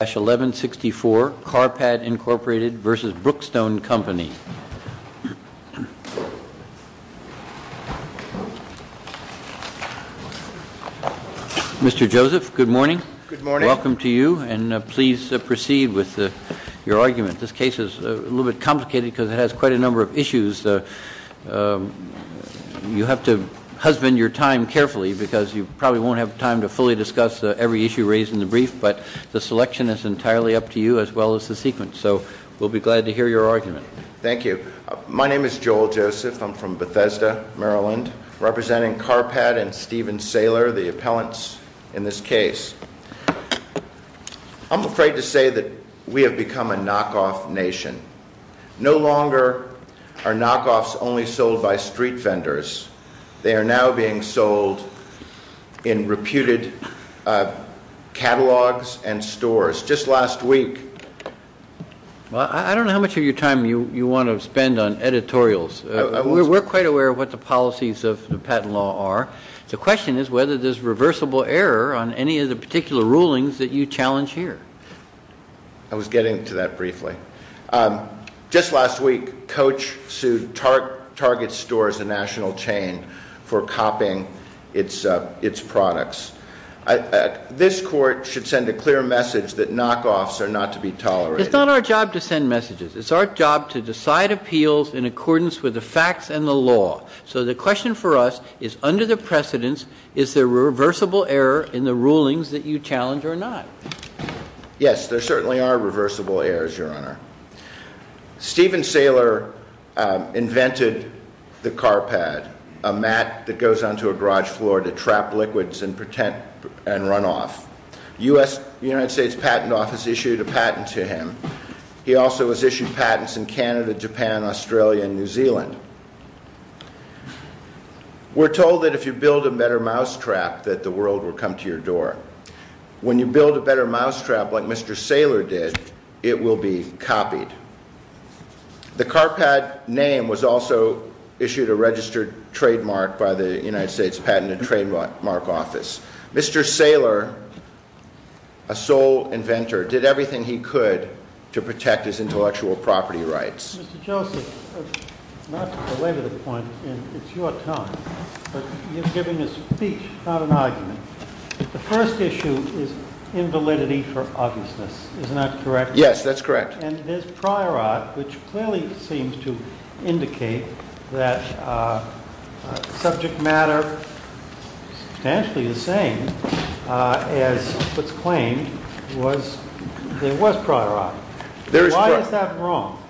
Mr. Joseph, good morning. Good morning. Welcome to you, and please proceed with your argument. This case is a little bit complicated because it has quite a number of issues. You have to husband your time carefully because you probably won't have time to fully discuss every issue raised in the brief, but the selection of the argument is entirely up to you as well as the sequence, so we'll be glad to hear your argument. Thank you. My name is Joel Joseph. I'm from Bethesda, Maryland, representing Carpad and Steven Saylor, the appellants in this case. I'm afraid to say that we have become a knockoff nation. No longer are knockoffs only sold by street vendors. They are now being sold in reputed catalogs and stores. Just last week Well, I don't know how much of your time you want to spend on editorials. We're quite aware of what the policies of the patent law are. The question is whether there's reversible error on any of the particular rulings that you challenge here. I was getting to that briefly. Just last week, Coach sued Target Stores, a national chain, for copying its products. This court should send a clear message that knockoffs are not to be tolerated. It's not our job to send messages. It's our job to decide appeals in accordance with the facts and the law. So the question for us is, under the precedence, is there reversible error in the rulings that you challenge or not? Yes, there certainly are reversible errors, Your Honor. Steven Saylor invented the Carpad, a mat that goes onto a garage floor to trap liquids and run off. The United States Patent Office issued a patent to him. He also has issued patents in Canada, Japan, Australia, and New Zealand. We're told that if you build a better mousetrap, that the world will come to your door. When you build a better mousetrap, like Mr. Saylor did, it will be copied. The Carpad name was also issued a registered trademark by the United States Patent and Trademark Office. Mr. Saylor, a sole inventor, did everything he could to protect his intellectual property rights. Mr. Joseph, not to belabor the point, and it's your time, but you're giving a speech, not an argument. The first issue is invalidity for obviousness. Is that correct? Yes, that's correct. And there's prior art, which clearly seems to indicate that subject matter is substantially the same as what's claimed. There was prior art. Why is that wrong?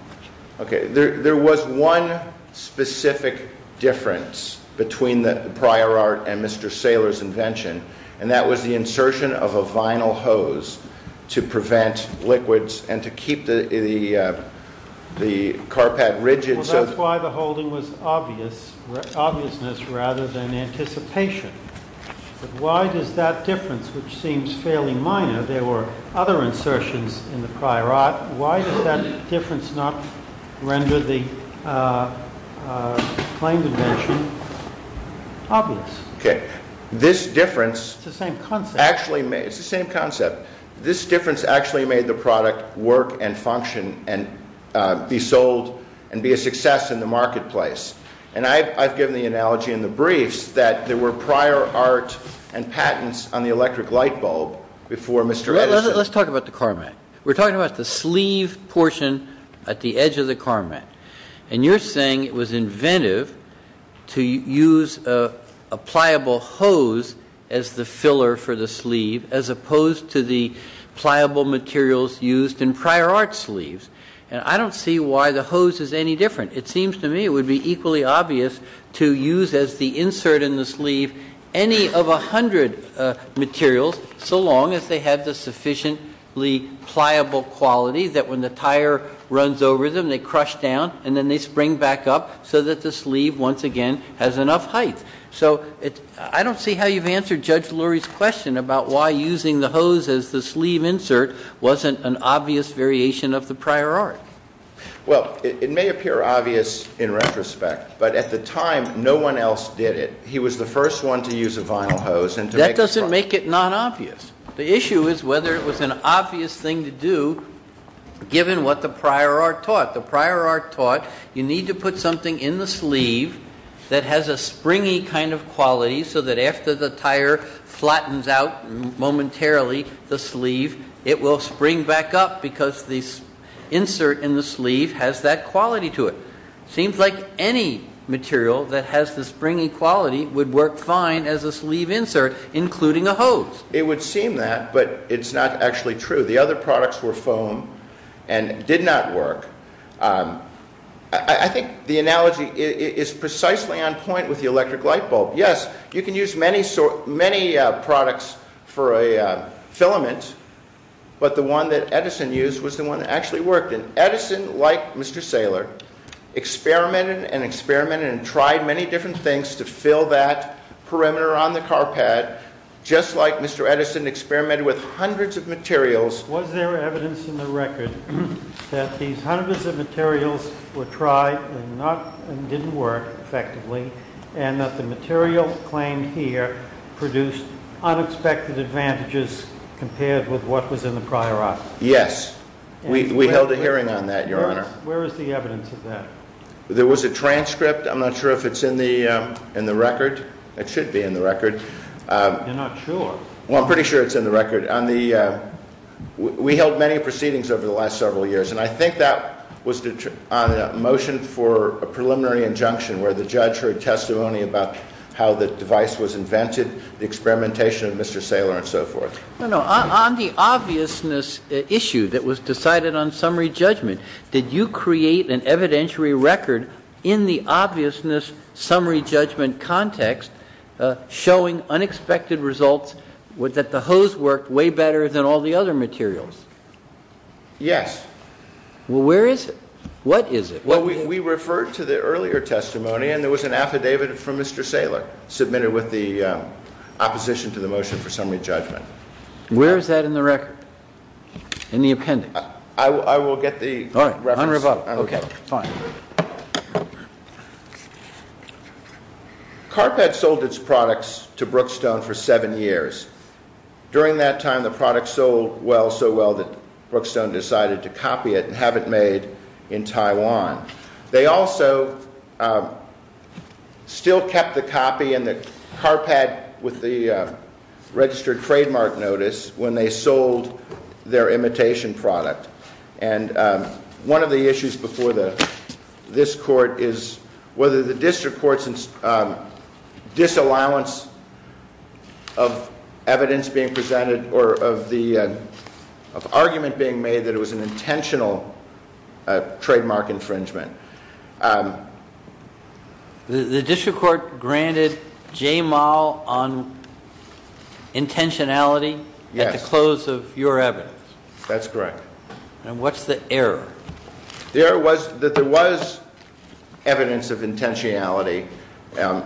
There was one specific difference between the prior art and Mr. Saylor's invention, and that was the insertion of a vinyl hose to prevent liquids and to keep the Carpad rigid. Well, that's why the holding was obvious, obviousness rather than anticipation. Why does that difference, which seems fairly minor, there were other insertions in the prior art, why does that difference not render the claimed invention obvious? It's the same concept. It's the same concept. This difference actually made the product work and function and be sold and be a success in the marketplace. And I've given the analogy in the briefs that there were prior art and patents on the electric light bulb before Mr. Edison. Let's talk about the carmat. We're talking about the sleeve portion at the edge of the carmat. And you're saying it was inventive to use a pliable hose as the filler for the sleeve as opposed to the pliable materials used in prior art sleeves. And I don't see why the hose is any different. It seems to me it would be equally obvious to use as the insert in the sleeve any of a hundred materials so long as they had the sufficiently pliable quality that when the tire runs over them, they crush down and then they spring back up so that the sleeve once again has enough height. I don't see how you've answered Judge Lurie's question about why using the hose as the sleeve insert wasn't an obvious variation of the prior art. Well, it may appear obvious in retrospect, but at the time, no one else did it. He was the first one to use a vinyl hose. That doesn't make it non-obvious. The issue is whether it was an obvious thing to do given what the prior art taught. The prior art taught you need to put something in the sleeve that has a springy kind of quality so that after the tire flattens out momentarily, the sleeve, it will spring back up because the insert in the sleeve has that quality to it. It seems like any material that has the springy quality would work fine as a sleeve insert, including a hose. It would seem that, but it's not actually true. The other products were foam and did not work. I think the analogy is precisely on point with the electric light bulb. Yes, you can use many products for a filament, but the one that Edison used was the one that actually worked. Edison, like Mr. Saylor, experimented and experimented and tried many different things to fill that perimeter on the car pad, just like Mr. Edison experimented with hundreds of materials. Was there evidence in the record that these hundreds of materials were tried and didn't work effectively and that the material claimed here produced unexpected advantages compared with what was in the prior art? Yes. We held a hearing on that, Your Honor. Where is the evidence of that? There was a transcript. I'm not sure if it's in the record. It should be in the record. You're not sure? Well, I'm pretty sure it's in the record. We held many proceedings over the last several years, and I think that was on a motion for a preliminary injunction where the judge heard testimony about how the device was invented, the experimentation of Mr. Saylor, and so forth. No, no. On the obviousness issue that was decided on summary judgment, did you create an evidentiary record in the obviousness summary judgment context showing unexpected results that the hose worked way better than all the other materials? Yes. Well, where is it? What is it? Well, we referred to the earlier testimony, and there was an affidavit from Mr. Saylor submitted with the opposition to the motion for summary judgment. Where is that in the record? In the appendix? I will get the reference. All right. On rebuttal. Okay. Fine. Carpet sold its products to Brookstone for seven years. During that time, the product sold so well that Brookstone decided to copy it and have it made in Taiwan. They also still kept the copy in the carpet with the registered trademark notice when they sold their imitation product. And one of the issues before this court is whether the district court's disallowance of evidence being presented or of the argument being made that it was an intentional trademark infringement. The district court granted J Moll on intentionality at the close of your evidence. That's correct. And what's the error? The error was that there was evidence of intentionality, and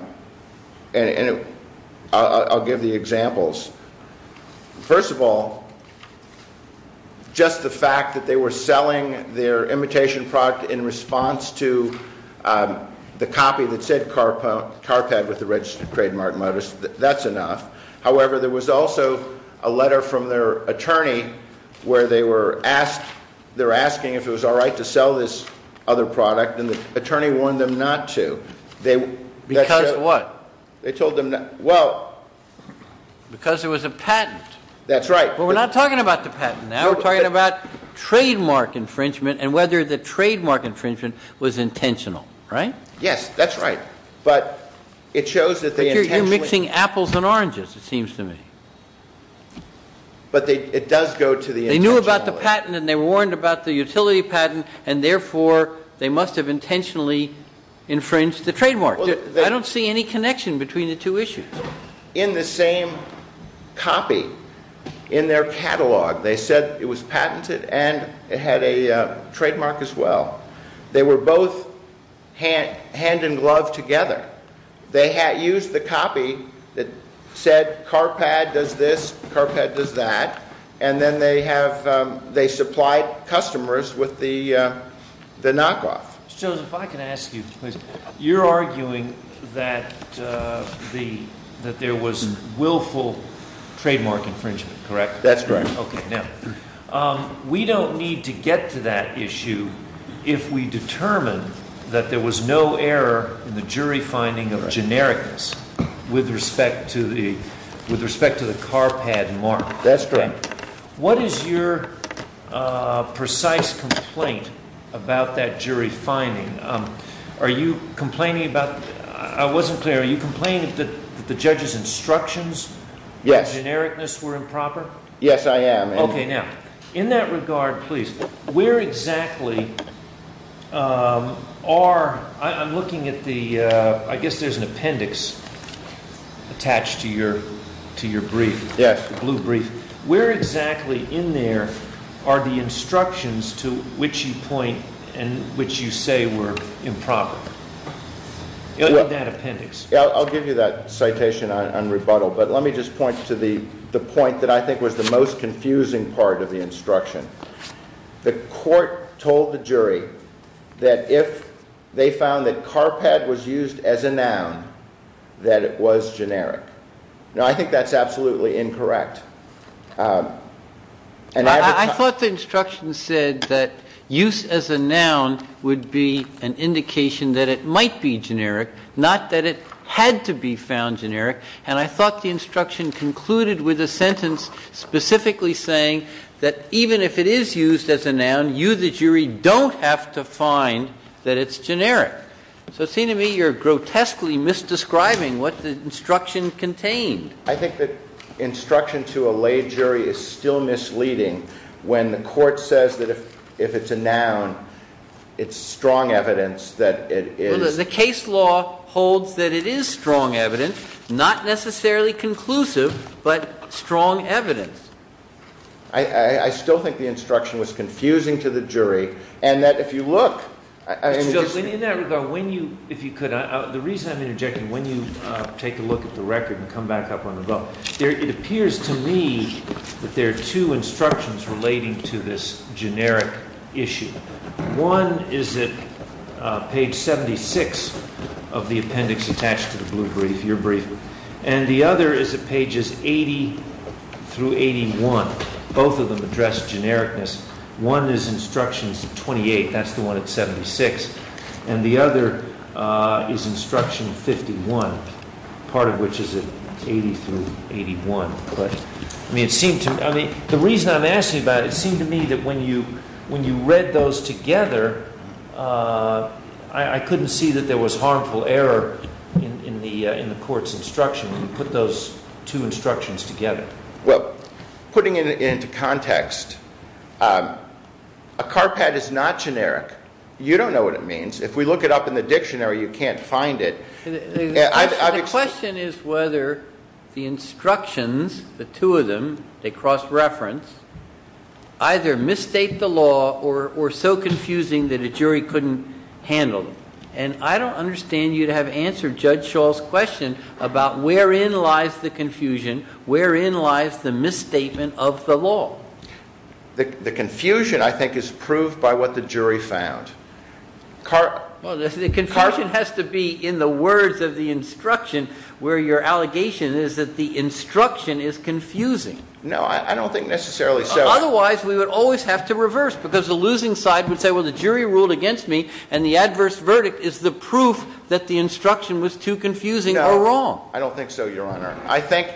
I'll give the examples. First of all, just the fact that they were selling their imitation product in response to the copy that said carpet with the registered trademark notice, that's enough. However, there was also a letter from their attorney where they were asking if it was all right to sell this other product, and the attorney warned them not to. Because what? They told them, well... Because it was a patent. That's right. But we're not talking about the patent now. We're talking about trademark infringement and whether the trademark infringement was intentional, right? Yes, that's right. But it shows that they intentionally... As far as it seems to me. But it does go to the intentionality. They knew about the patent, and they warned about the utility patent, and therefore they must have intentionally infringed the trademark. I don't see any connection between the two issues. In the same copy, in their catalog, they said it was patented and it had a trademark as well. They were both hand in glove together. They used the copy that said car pad does this, car pad does that, and then they supplied customers with the knockoff. Mr. Jones, if I can ask you, please. You're arguing that there was willful trademark infringement, correct? That's correct. We don't need to get to that issue if we determine that there was no error in the jury finding of genericness with respect to the car pad mark. That's correct. What is your precise complaint about that jury finding? Are you complaining about... I wasn't clear. Are you complaining that the judge's instructions for genericness were improper? Yes, I am. Okay, now, in that regard, please, where exactly are... I'm looking at the... I guess there's an appendix attached to your brief, the blue brief. Where exactly in there are the instructions to which you point and which you say were improper in that appendix? I'll give you that citation on rebuttal, but let me just point to the point that I think was the most confusing part of the instruction. The court told the jury that if they found that car pad was used as a noun, that it was generic. Now, I think that's absolutely incorrect. I thought the instruction said that use as a noun would be an indication that it might be generic, not that it had to be found generic. And I thought the instruction concluded with a sentence specifically saying that even if it is used as a noun, you, the jury, don't have to find that it's generic. So it seems to me you're grotesquely misdescribing what the instruction contained. I think the instruction to a lay jury is still misleading when the court says that if it's a noun, it's strong evidence that it is... The case law holds that it is strong evidence, not necessarily conclusive, but strong evidence. I still think the instruction was confusing to the jury, and that if you look... In that regard, if you could, the reason I'm interjecting, when you take a look at the record and come back up on the vote, it appears to me that there are two instructions relating to this generic issue. One is at page 76 of the appendix attached to the blue brief, your brief. And the other is at pages 80 through 81. Both of them address genericness. One is instructions 28. That's the one at 76. And the other is instruction 51, part of which is at 80 through 81. But, I mean, it seemed to... The reason I'm asking about it, it seemed to me that when you read those together, I couldn't see that there was harmful error in the court's instruction when you put those two instructions together. Well, putting it into context, a CARPAD is not generic. You don't know what it means. If we look it up in the dictionary, you can't find it. The question is whether the instructions, the two of them, they cross-reference, either misstate the law or so confusing that a jury couldn't handle them. And I don't understand you to have answered Judge Schall's question about wherein lies the confusion, wherein lies the misstatement of the law. The confusion, I think, is proved by what the jury found. Well, the confusion has to be in the words of the instruction where your allegation is that the instruction is confusing. No, I don't think necessarily so. Otherwise, we would always have to reverse because the losing side would say, well, the jury ruled against me and the adverse verdict is the proof that the instruction was too confusing or wrong. No, I don't think so, Your Honor. I think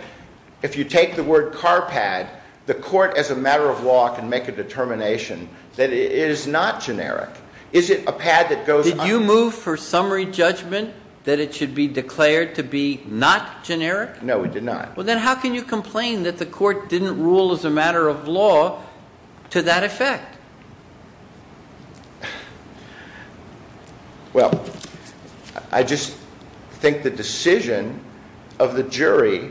if you take the word CARPAD, the court as a matter of law can make a determination that it is not generic. Is it a pad that goes... Did you move for summary judgment that it should be declared to be not generic? No, we did not. Well, then how can you complain that the court didn't rule as a matter of law to that effect? Well, I just think the decision of the jury,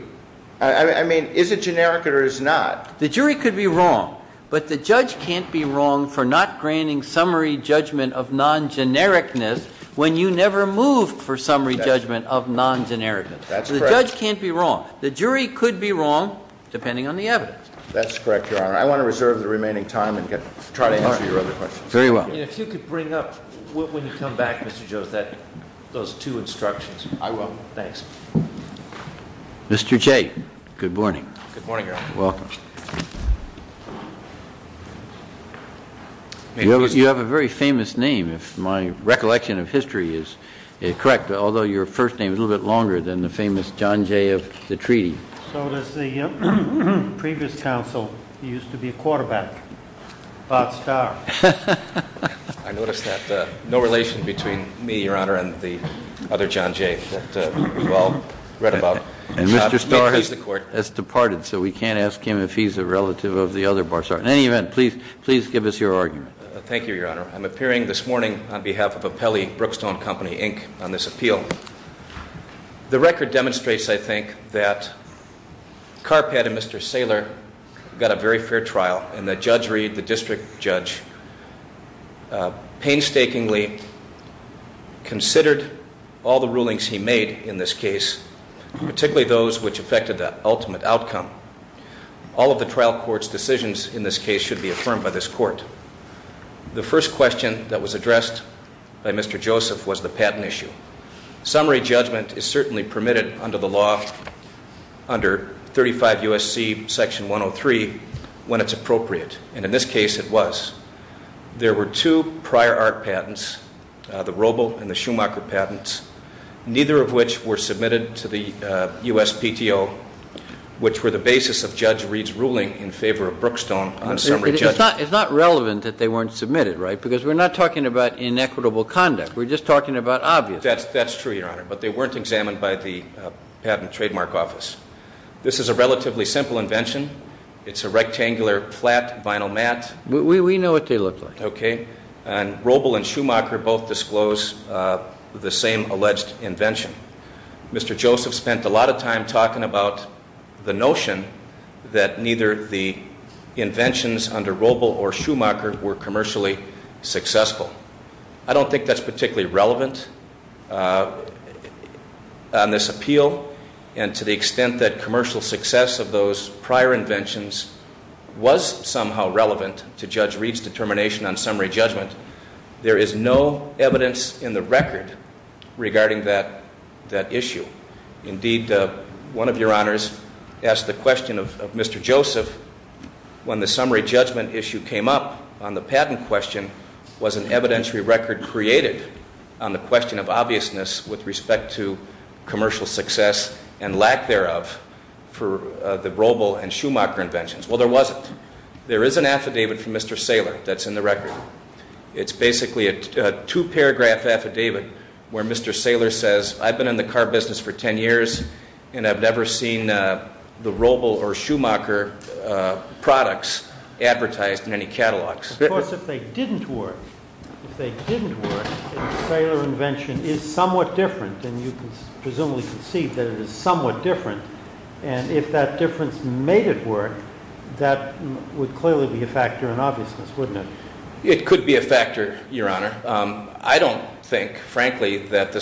I mean, is it generic or is it not? The jury could be wrong, but the judge can't be wrong for not granting summary judgment of non-genericness when you never moved for summary judgment of non-genericness. That's correct. The judge can't be wrong. The jury could be wrong depending on the evidence. That's correct, Your Honor. I want to reserve the remaining time and try to answer your other questions. Very well. And if you could bring up, when you come back, Mr. Jones, those two instructions. I will. Thanks. Mr. Jay, good morning. Good morning, Your Honor. Welcome. You have a very famous name, if my recollection of history is correct, although your first name is a little bit longer than the famous John Jay of the treaty. So does the previous counsel. He used to be a quarterback, Bob Starr. I noticed that no relation between me, Your Honor, and the other John Jay that we've all read about. And Mr. Starr has departed, so we can't ask him a few questions. In any event, please give us your argument. Thank you, Your Honor. I'm appearing this morning on behalf of Apelli Brookstone Company, Inc., on this appeal. The record demonstrates, I think, that Carpet and Mr. Saylor got a very fair trial, and that Judge Reed, the district judge, painstakingly considered all the rulings he made in this case, particularly those which affected the ultimate outcome. All of the trial court's decisions in this case should be affirmed by this court. The first question that was addressed by Mr. Joseph was the patent issue. Summary judgment is certainly permitted under the law, under 35 U.S.C. Section 103, when it's appropriate, and in this case it was. There were two prior art patents, the Roble and the Schumacher patents, neither of which were submitted to the USPTO, which were the basis of Judge Reed's ruling in favor of Brookstone on summary judgment. It's not relevant that they weren't submitted, right? Because we're not talking about inequitable conduct. We're just talking about obvious. That's true, Your Honor, but they weren't examined by the Patent and Trademark Office. This is a relatively simple invention. It's a rectangular, flat vinyl mat. We know what they look like. And Roble and Schumacher both disclose the same alleged invention. Mr. Joseph spent a lot of time talking about the notion that neither the inventions under Roble or Schumacher were commercially successful. I don't think that's particularly relevant on this appeal, and to the extent that commercial success of those prior inventions was somehow relevant to Judge Reed's determination on summary judgment, there is no evidence in the record regarding that issue. Indeed, one of Your Honors asked the question of Mr. Joseph, when the summary judgment issue came up on the patent question, was an evidentiary record created on the question of obviousness with respect to commercial success and lack thereof for the Roble and Schumacher inventions? Well, there wasn't. There is an affidavit from Mr. Saylor that's in the record. It's basically a two-paragraph affidavit where Mr. Saylor says, I've been in the car business for ten years, and I've never seen the Roble or Schumacher products advertised in any catalogs. Of course, if they didn't work, if they didn't work, then the Saylor invention is somewhat different, and you can presumably conceive that it is somewhat different, and if that difference made it work, that would clearly be a factor in obviousness, wouldn't it? It could be a factor, Your Honor. I don't think, frankly, that the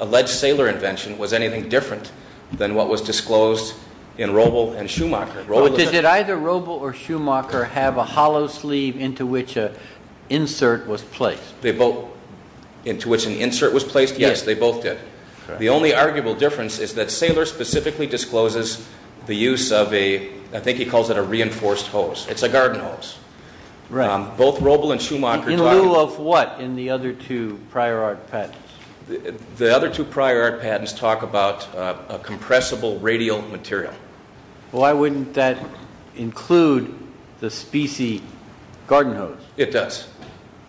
alleged Saylor invention was anything different than what was disclosed in Roble and Schumacher. Did either Roble or Schumacher have a hollow sleeve into which an insert was placed? They both, into which an insert was placed? Yes, they both did. The only arguable difference is that Saylor specifically discloses the use of a, I think he calls it a reinforced hose. It's a garden hose. Right. Both Roble and Schumacher. In lieu of what in the other two prior art patents? The other two prior art patents talk about a compressible radial material. Why wouldn't that include the specie garden hose? It does.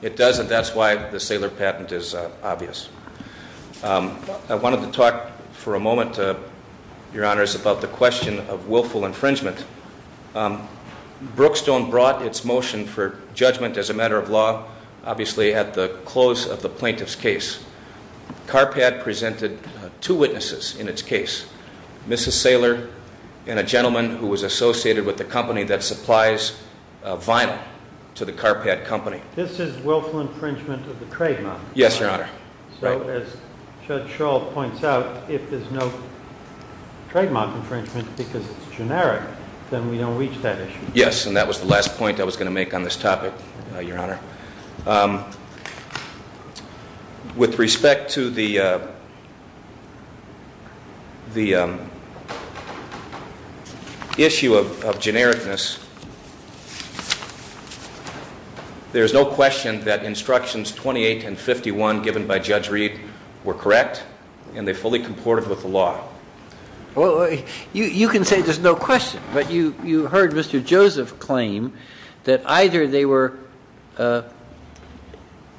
It does, and that's why the Saylor patent is obvious. I wanted to talk for a moment, Your Honors, about the question of willful infringement. Brookstone brought its motion for judgment as a matter of law, obviously at the close of the plaintiff's case. CARPAD presented two witnesses in its case, Mrs. Saylor and a gentleman who was associated with the company that supplies vinyl to the CARPAD company. This is willful infringement of the trademark. Yes, Your Honor. So as Judge Schall points out, if there's no trademark infringement because it's generic, then we don't reach that issue. Yes, and that was the last point I was going to make on this topic, Your Honor. With respect to the issue of genericness, there's no question that instructions 28 and 51 given by Judge Reed were correct, and they fully comported with the law. You can say there's no question, but you heard Mr. Joseph claim that either they were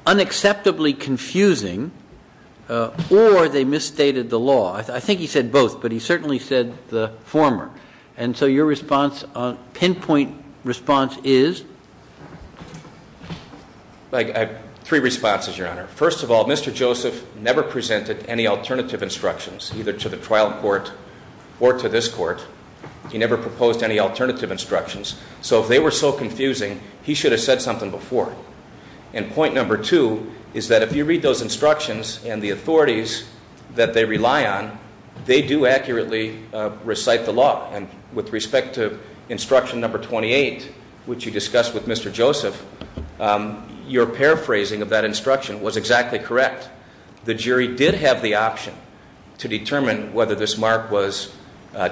unacceptably confusing or they misstated the law. I think he said both, but he certainly said the former. And so your response, pinpoint response is? I have three responses, Your Honor. First of all, Mr. Joseph never presented any alternative instructions, either to the trial court or to this court. He never proposed any alternative instructions. So if they were so confusing, he should have said something before. And point number two is that if you read those instructions and the authorities that they rely on, they do accurately recite the law. And with respect to instruction number 28, which you discussed with Mr. Joseph, your paraphrasing of that instruction was exactly correct. The jury did have the option to determine whether this mark was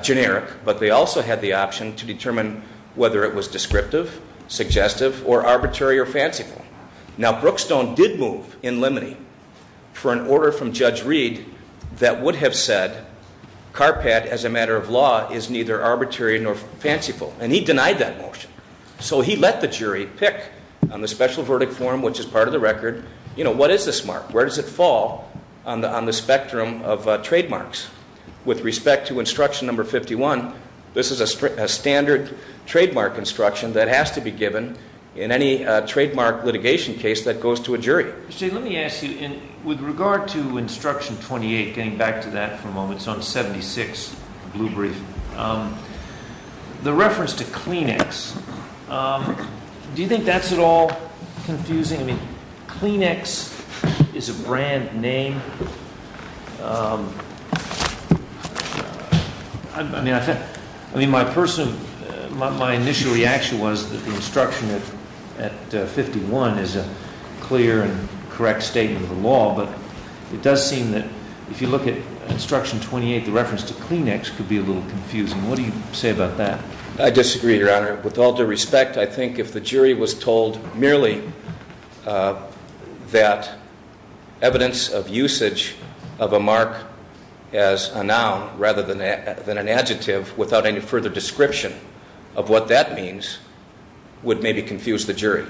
generic, but they also had the option to determine whether it was descriptive, suggestive, or arbitrary or fanciful. Now, Brookstone did move in limine for an order from Judge Reed that would have said CARPAT as a matter of law is neither arbitrary nor fanciful, and he denied that motion. So he let the jury pick on the special verdict form, which is part of the record. What is this mark? Where does it fall on the spectrum of trademarks? With respect to instruction number 51, this is a standard trademark instruction that has to be given in any trademark litigation case that goes to a jury. Mr. Jay, let me ask you, with regard to instruction 28, getting back to that for a moment, it's on 76, the blue brief, the reference to Kleenex, do you think that's at all confusing? I mean, Kleenex is a brand name. I mean, my initial reaction was that the instruction at 51 is a clear and correct statement of the law, but it does seem that if you look at instruction 28, the reference to Kleenex could be a little confusing. What do you say about that? I disagree, Your Honor. With all due respect, I think if the jury was told merely that evidence of use of Kleenex as a noun rather than an adjective without any further description of what that means would maybe confuse the jury.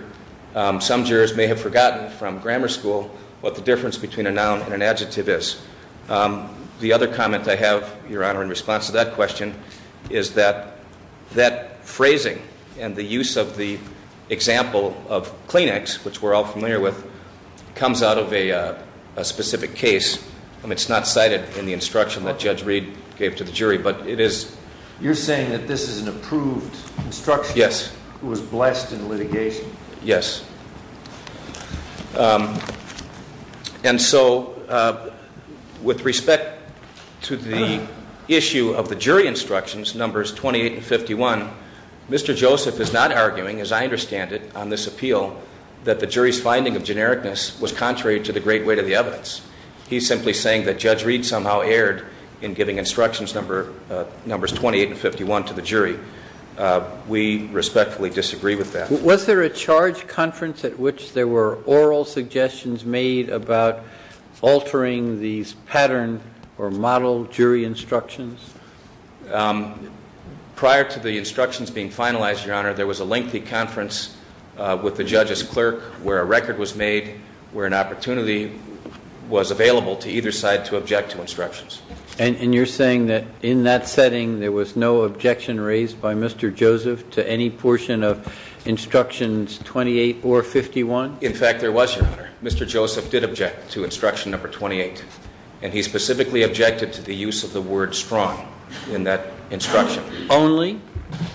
Some jurors may have forgotten from grammar school what the difference between a noun and an adjective is. The other comment I have, Your Honor, in response to that question, is that that phrasing and the use of the example of Kleenex, which we're all familiar with, comes out of a specific case. I mean, it's not cited in the instruction that Judge Reed gave to the jury, but it is- You're saying that this is an approved instruction? Yes. Who was blessed in litigation? Yes. And so with respect to the issue of the jury instructions, numbers 28 and 51, Mr. Joseph is not arguing, as I understand it, on this appeal, that the jury's finding of genericness was contrary to the great weight of the evidence. He's simply saying that Judge Reed somehow erred in giving instructions, numbers 28 and 51, to the jury. We respectfully disagree with that. Was there a charge conference at which there were oral suggestions made about altering these pattern or model jury instructions? Prior to the instructions being finalized, Your Honor, there was a lengthy conference with the judge's clerk where a record was made, where an opportunity was available to either side to object to instructions. And you're saying that in that setting there was no objection raised by Mr. Joseph to any portion of instructions 28 or 51? In fact, there was, Your Honor. Mr. Joseph did object to instruction number 28, and he specifically objected to the use of the word strong in that instruction. Only?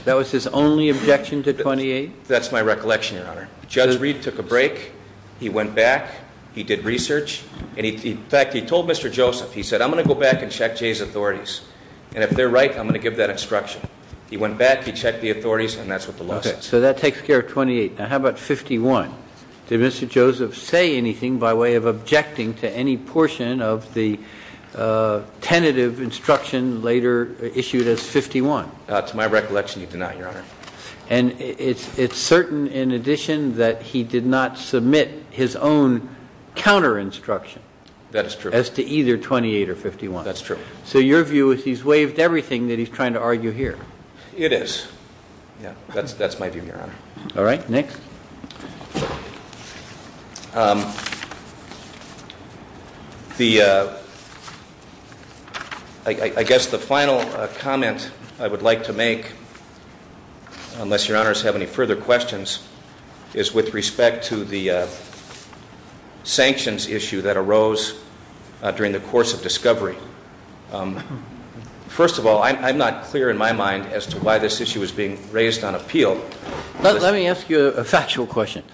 That was his only objection to 28? That's my recollection, Your Honor. Judge Reed took a break. He went back. He did research. In fact, he told Mr. Joseph, he said, I'm going to go back and check Jay's authorities, and if they're right, I'm going to give that instruction. He went back. He checked the authorities, and that's what the law says. So that takes care of 28. Now how about 51? Did Mr. Joseph say anything by way of objecting to any portion of the tentative instruction later issued as 51? To my recollection, he did not, Your Honor. And it's certain in addition that he did not submit his own counter-instruction as to either 28 or 51? That's true. So your view is he's waived everything that he's trying to argue here? It is. That's my view, Your Honor. All right, next. I guess the final comment I would like to make, unless Your Honors have any further questions, is with respect to the sanctions issue that arose during the course of discovery. First of all, I'm not clear in my mind as to why this issue is being raised on appeal. Let me ask you a factual question.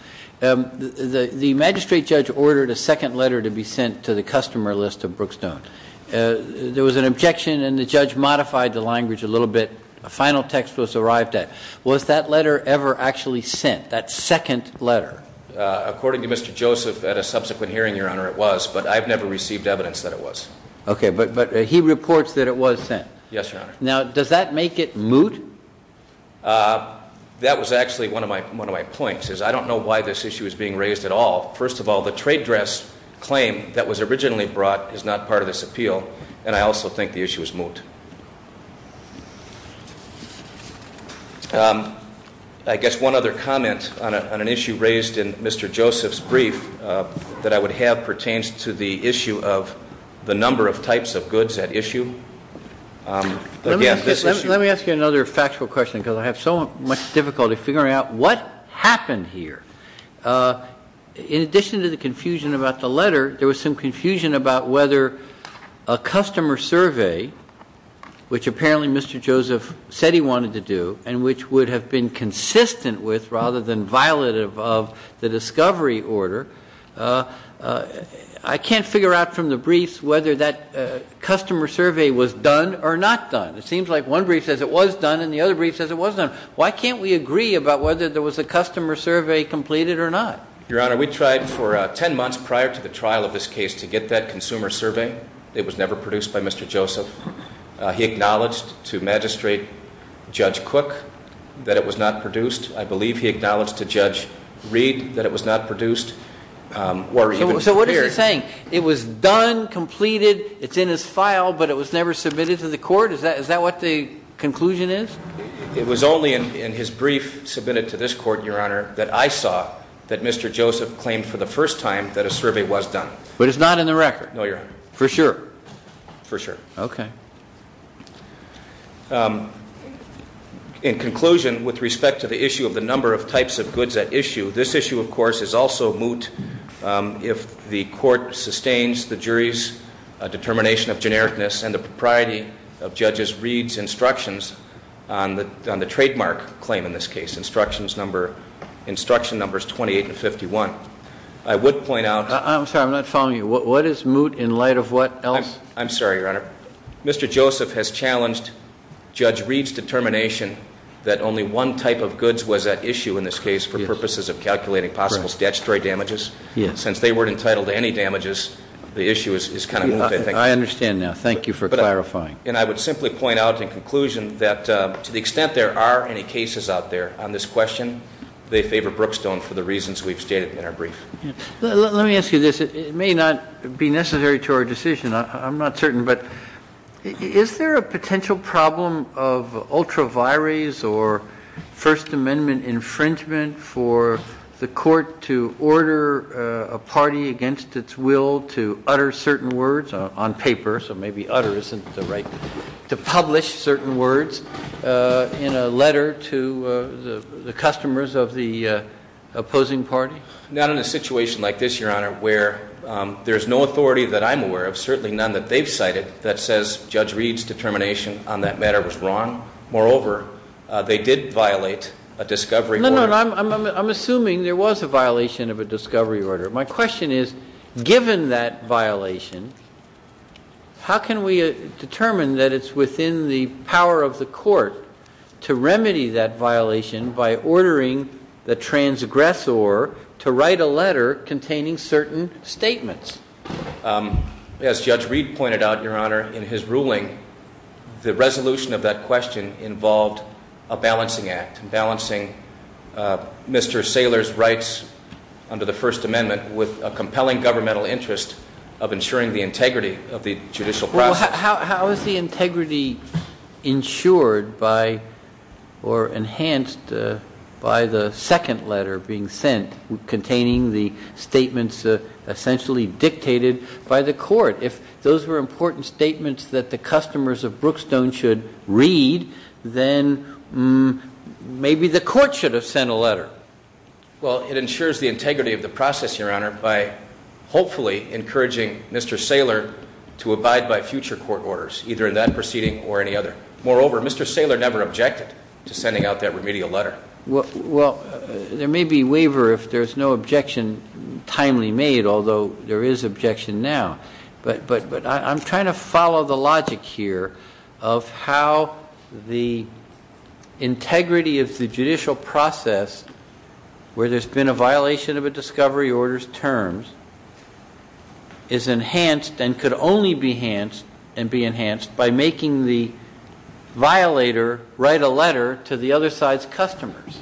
The magistrate judge ordered a second letter to be sent to the customer list of Brookstone. There was an objection, and the judge modified the language a little bit. A final text was arrived at. Was that letter ever actually sent, that second letter? According to Mr. Joseph, at a subsequent hearing, Your Honor, it was, but I've never received evidence that it was. Okay, but he reports that it was sent. Yes, Your Honor. Now, does that make it moot? That was actually one of my points, is I don't know why this issue is being raised at all. First of all, the trade dress claim that was originally brought is not part of this appeal, and I also think the issue is moot. I guess one other comment on an issue raised in Mr. Joseph's brief that I would have pertains to the issue of the number of types of goods at issue. Let me ask you another factual question, because I have so much difficulty figuring out what happened here. In addition to the confusion about the letter, there was some confusion about whether a customer survey, which apparently Mr. Joseph said he wanted to do, and which would have been consistent with rather than violative of the discovery order, I can't figure out from the briefs whether that customer survey was done or not done. It seems like one brief says it was done and the other brief says it wasn't. Why can't we agree about whether there was a customer survey completed or not? Your Honor, we tried for 10 months prior to the trial of this case to get that consumer survey. It was never produced by Mr. Joseph. He acknowledged to Magistrate Judge Cook that it was not produced. I believe he acknowledged to Judge Reed that it was not produced. So what is he saying? It was done, completed, it's in his file, but it was never submitted to the court? Is that what the conclusion is? It was only in his brief submitted to this court, Your Honor, that I saw that Mr. Joseph claimed for the first time that a survey was done. But it's not in the record? No, Your Honor. For sure? For sure. Okay. In conclusion, with respect to the issue of the number of types of goods at issue, this issue, of course, is also moot if the court sustains the jury's determination of genericness and the propriety of Judges Reed's instructions on the trademark claim in this case, instruction numbers 28 and 51. I would point out- I'm sorry, I'm not following you. What is moot in light of what else? I'm sorry, Your Honor. Mr. Joseph has challenged Judge Reed's determination that only one type of goods was at issue in this case for purposes of calculating possible statutory damages. Since they weren't entitled to any damages, the issue is kind of moot, I think. I understand now. Thank you for clarifying. And I would simply point out in conclusion that to the extent there are any cases out there on this question, they favor Brookstone for the reasons we've stated in our brief. Let me ask you this. It may not be necessary to our decision. I'm not certain, but is there a potential problem of ultra vires or First Amendment infringement for the court to order a party against its will to utter certain words on paper? So maybe utter isn't the right word. To publish certain words in a letter to the customers of the opposing party? Not in a situation like this, Your Honor, where there's no authority that I'm aware of, certainly none that they've cited, that says Judge Reed's determination on that matter was wrong. Moreover, they did violate a discovery order. I'm assuming there was a violation of a discovery order. My question is, given that violation, how can we determine that it's within the power of the court to remedy that violation by ordering the transgressor to write a letter containing certain statements? As Judge Reed pointed out, Your Honor, in his ruling, the resolution of that question involved a balancing act, balancing Mr. Saylor's rights under the First Amendment with a compelling governmental interest of ensuring the integrity of the judicial process. How is the integrity ensured by or enhanced by the second letter being sent containing the statements essentially dictated by the court? If those were important statements that the customers of Brookstone should read, then maybe the court should have sent a letter. Well, it ensures the integrity of the process, Your Honor, by hopefully encouraging Mr. Saylor to abide by future court orders, either in that proceeding or any other. Moreover, Mr. Saylor never objected to sending out that remedial letter. Well, there may be waiver if there's no objection timely made, although there is objection now. But I'm trying to follow the logic here of how the integrity of the judicial process where there's been a violation of a discovery order's terms is enhanced and could only be enhanced by making the violator write a letter to the other side's customers.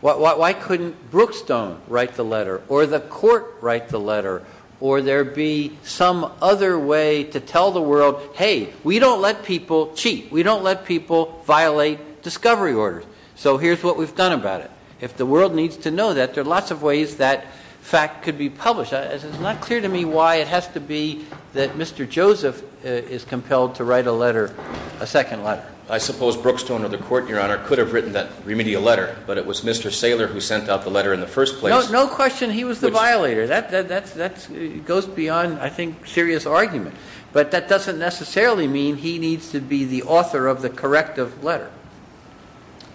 Why couldn't Brookstone write the letter, or the court write the letter, or there be some other way to tell the world, hey, we don't let people cheat. We don't let people violate discovery orders. So here's what we've done about it. If the world needs to know that, there are lots of ways that fact could be published. It's not clear to me why it has to be that Mr. Joseph is compelled to write a letter, a second letter. I suppose Brookstone or the court, Your Honor, could have written that remedial letter. But it was Mr. Saylor who sent out the letter in the first place. No question he was the violator. That goes beyond, I think, serious argument. But that doesn't necessarily mean he needs to be the author of the corrective letter.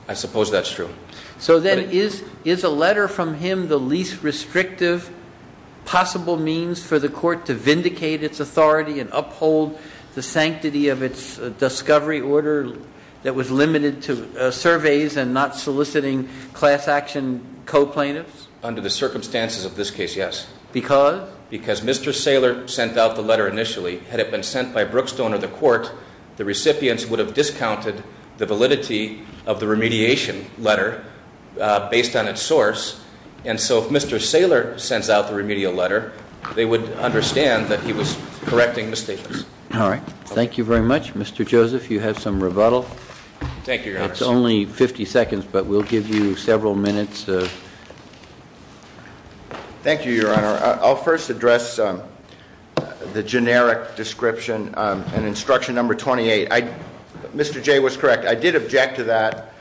I suppose that's true. So then is a letter from him the least restrictive possible means for the court to vindicate its authority and uphold the sanctity of its discovery order that was limited to surveys and not soliciting class action co-plaintiffs? Under the circumstances of this case, yes. Because? Because Mr. Saylor sent out the letter initially. Had it been sent by Brookstone or the court, the recipients would have discounted the validity of the remediation letter based on its source. And so if Mr. Saylor sends out the remedial letter, they would understand that he was correcting mistakes. All right. Thank you very much. Mr. Joseph, you have some rebuttal. Thank you, Your Honor. It's only 50 seconds, but we'll give you several minutes. Thank you, Your Honor. I'll first address the generic description in instruction number 28. Mr. Jay was correct. I did object to that.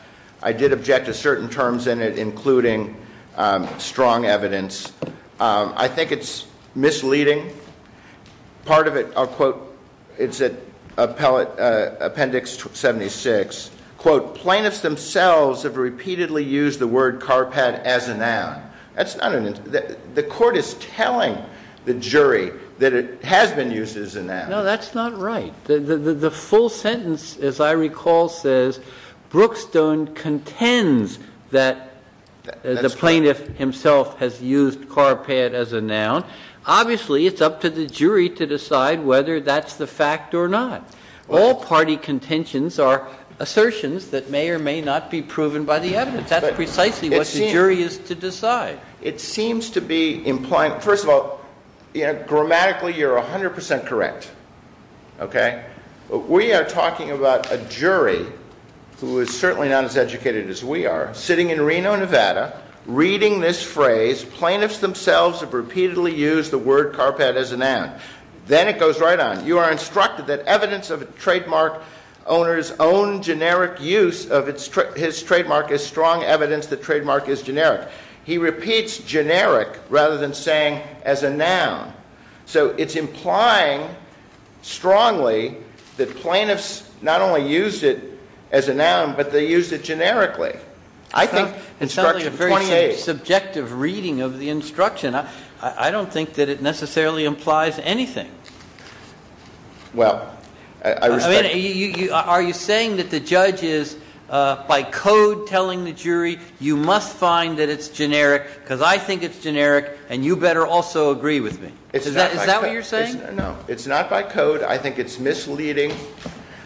I did object to certain terms in it, including strong evidence. I think it's misleading. Part of it, I'll quote, it's in appendix 76. Quote, plaintiffs themselves have repeatedly used the word carpet as a noun. The court is telling the jury that it has been used as a noun. No, that's not right. The full sentence, as I recall, says Brookstone contends that the plaintiff himself has used carpet as a noun. Obviously, it's up to the jury to decide whether that's the fact or not. All party contentions are assertions that may or may not be proven by the evidence. That's precisely what the jury is to decide. It seems to be implying, first of all, grammatically you're 100 percent correct. Okay? We are talking about a jury who is certainly not as educated as we are, sitting in Reno, Nevada, reading this phrase, plaintiffs themselves have repeatedly used the word carpet as a noun. Then it goes right on. You are instructed that evidence of a trademark owner's own generic use of his trademark is strong evidence that trademark is generic. He repeats generic rather than saying as a noun. So it's implying strongly that plaintiffs not only used it as a noun, but they used it generically. I think instruction 28. It sounds like a very subjective reading of the instruction. I don't think that it necessarily implies anything. Well, I respect that. Are you saying that the judge is by code telling the jury you must find that it's generic because I think it's generic and you better also agree with me? Is that what you're saying? No. It's not by code. I think it's misleading.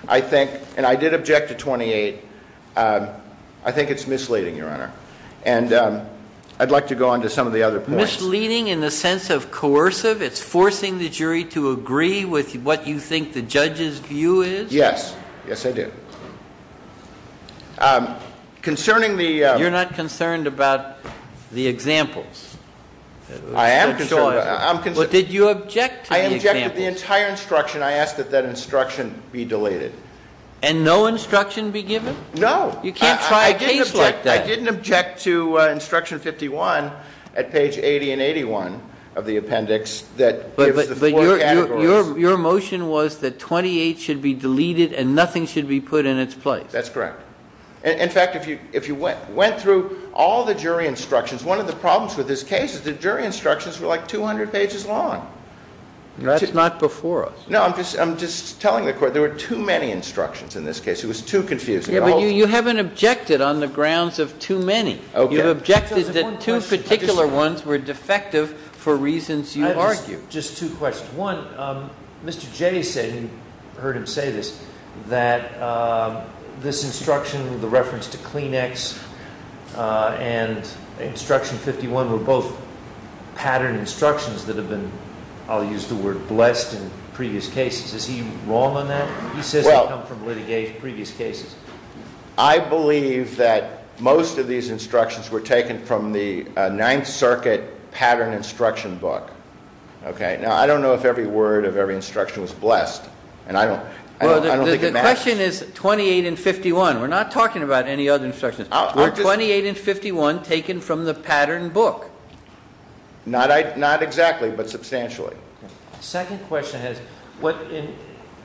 I think, and I did object to 28. I think it's misleading, Your Honor. And I'd like to go on to some of the other points. Misleading in the sense of coercive? It's forcing the jury to agree with what you think the judge's view is? Yes. Yes, I do. Concerning the- You're not concerned about the examples? I am concerned. Well, did you object to the examples? I objected to the entire instruction. I asked that that instruction be deleted. And no instruction be given? No. You can't try a case like that. I didn't object to instruction 51 at page 80 and 81 of the appendix that gives the four categories. But your motion was that 28 should be deleted and nothing should be put in its place. That's correct. In fact, if you went through all the jury instructions, one of the problems with this case is the jury instructions were like 200 pages long. That's not before us. No, I'm just telling the court there were too many instructions in this case. It was too confusing. But you haven't objected on the grounds of too many. You've objected that two particular ones were defective for reasons you argue. Just two questions. One, Mr. Jay said, and you heard him say this, that this instruction with the reference to Kleenex and instruction 51 were both patterned instructions that have been, I'll use the word, blessed in previous cases. Is he wrong on that? He says they come from previous cases. I believe that most of these instructions were taken from the Ninth Circuit pattern instruction book. Now, I don't know if every word of every instruction was blessed, and I don't think it matters. The question is 28 and 51. We're not talking about any other instructions. Were 28 and 51 taken from the pattern book? Not exactly, but substantially. The second question is what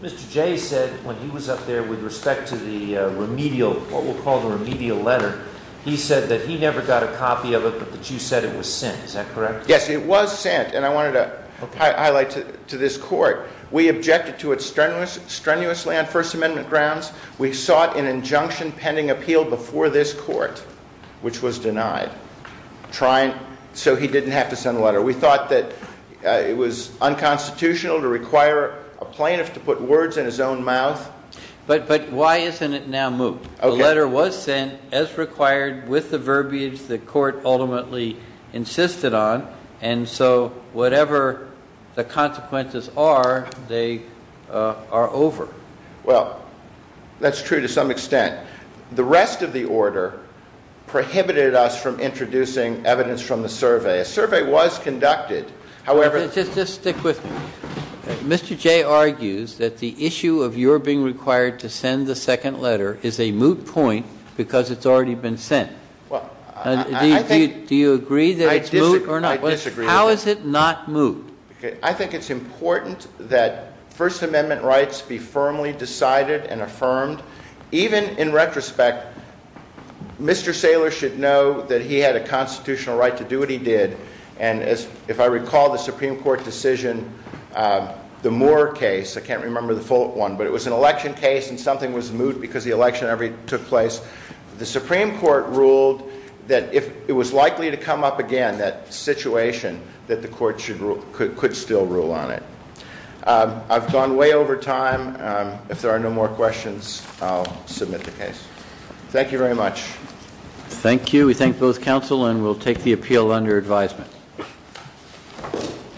Mr. Jay said when he was up there with respect to the remedial, what we'll call the remedial letter. He said that he never got a copy of it, but that you said it was sent. Is that correct? Yes, it was sent, and I wanted to highlight to this court, we objected to it strenuously on First Amendment grounds. We sought an injunction pending appeal before this court, which was denied, so he didn't have to send a letter. We thought that it was unconstitutional to require a plaintiff to put words in his own mouth. But why isn't it now moved? The letter was sent as required with the verbiage the court ultimately insisted on, and so whatever the consequences are, they are over. Well, that's true to some extent. The rest of the order prohibited us from introducing evidence from the survey. A survey was conducted. Just stick with me. Mr. Jay argues that the issue of your being required to send the second letter is a moot point because it's already been sent. Do you agree that it's moot or not? I disagree. How is it not moot? I think it's important that First Amendment rights be firmly decided and affirmed. Even in retrospect, Mr. Saylor should know that he had a constitutional right to do what he did. And if I recall the Supreme Court decision, the Moore case, I can't remember the full one, but it was an election case and something was moot because the election took place. The Supreme Court ruled that if it was likely to come up again, that situation, that the court could still rule on it. I've gone way over time. If there are no more questions, I'll submit the case. Thank you very much. Thank you. We thank both counsel and will take the appeal under advisement.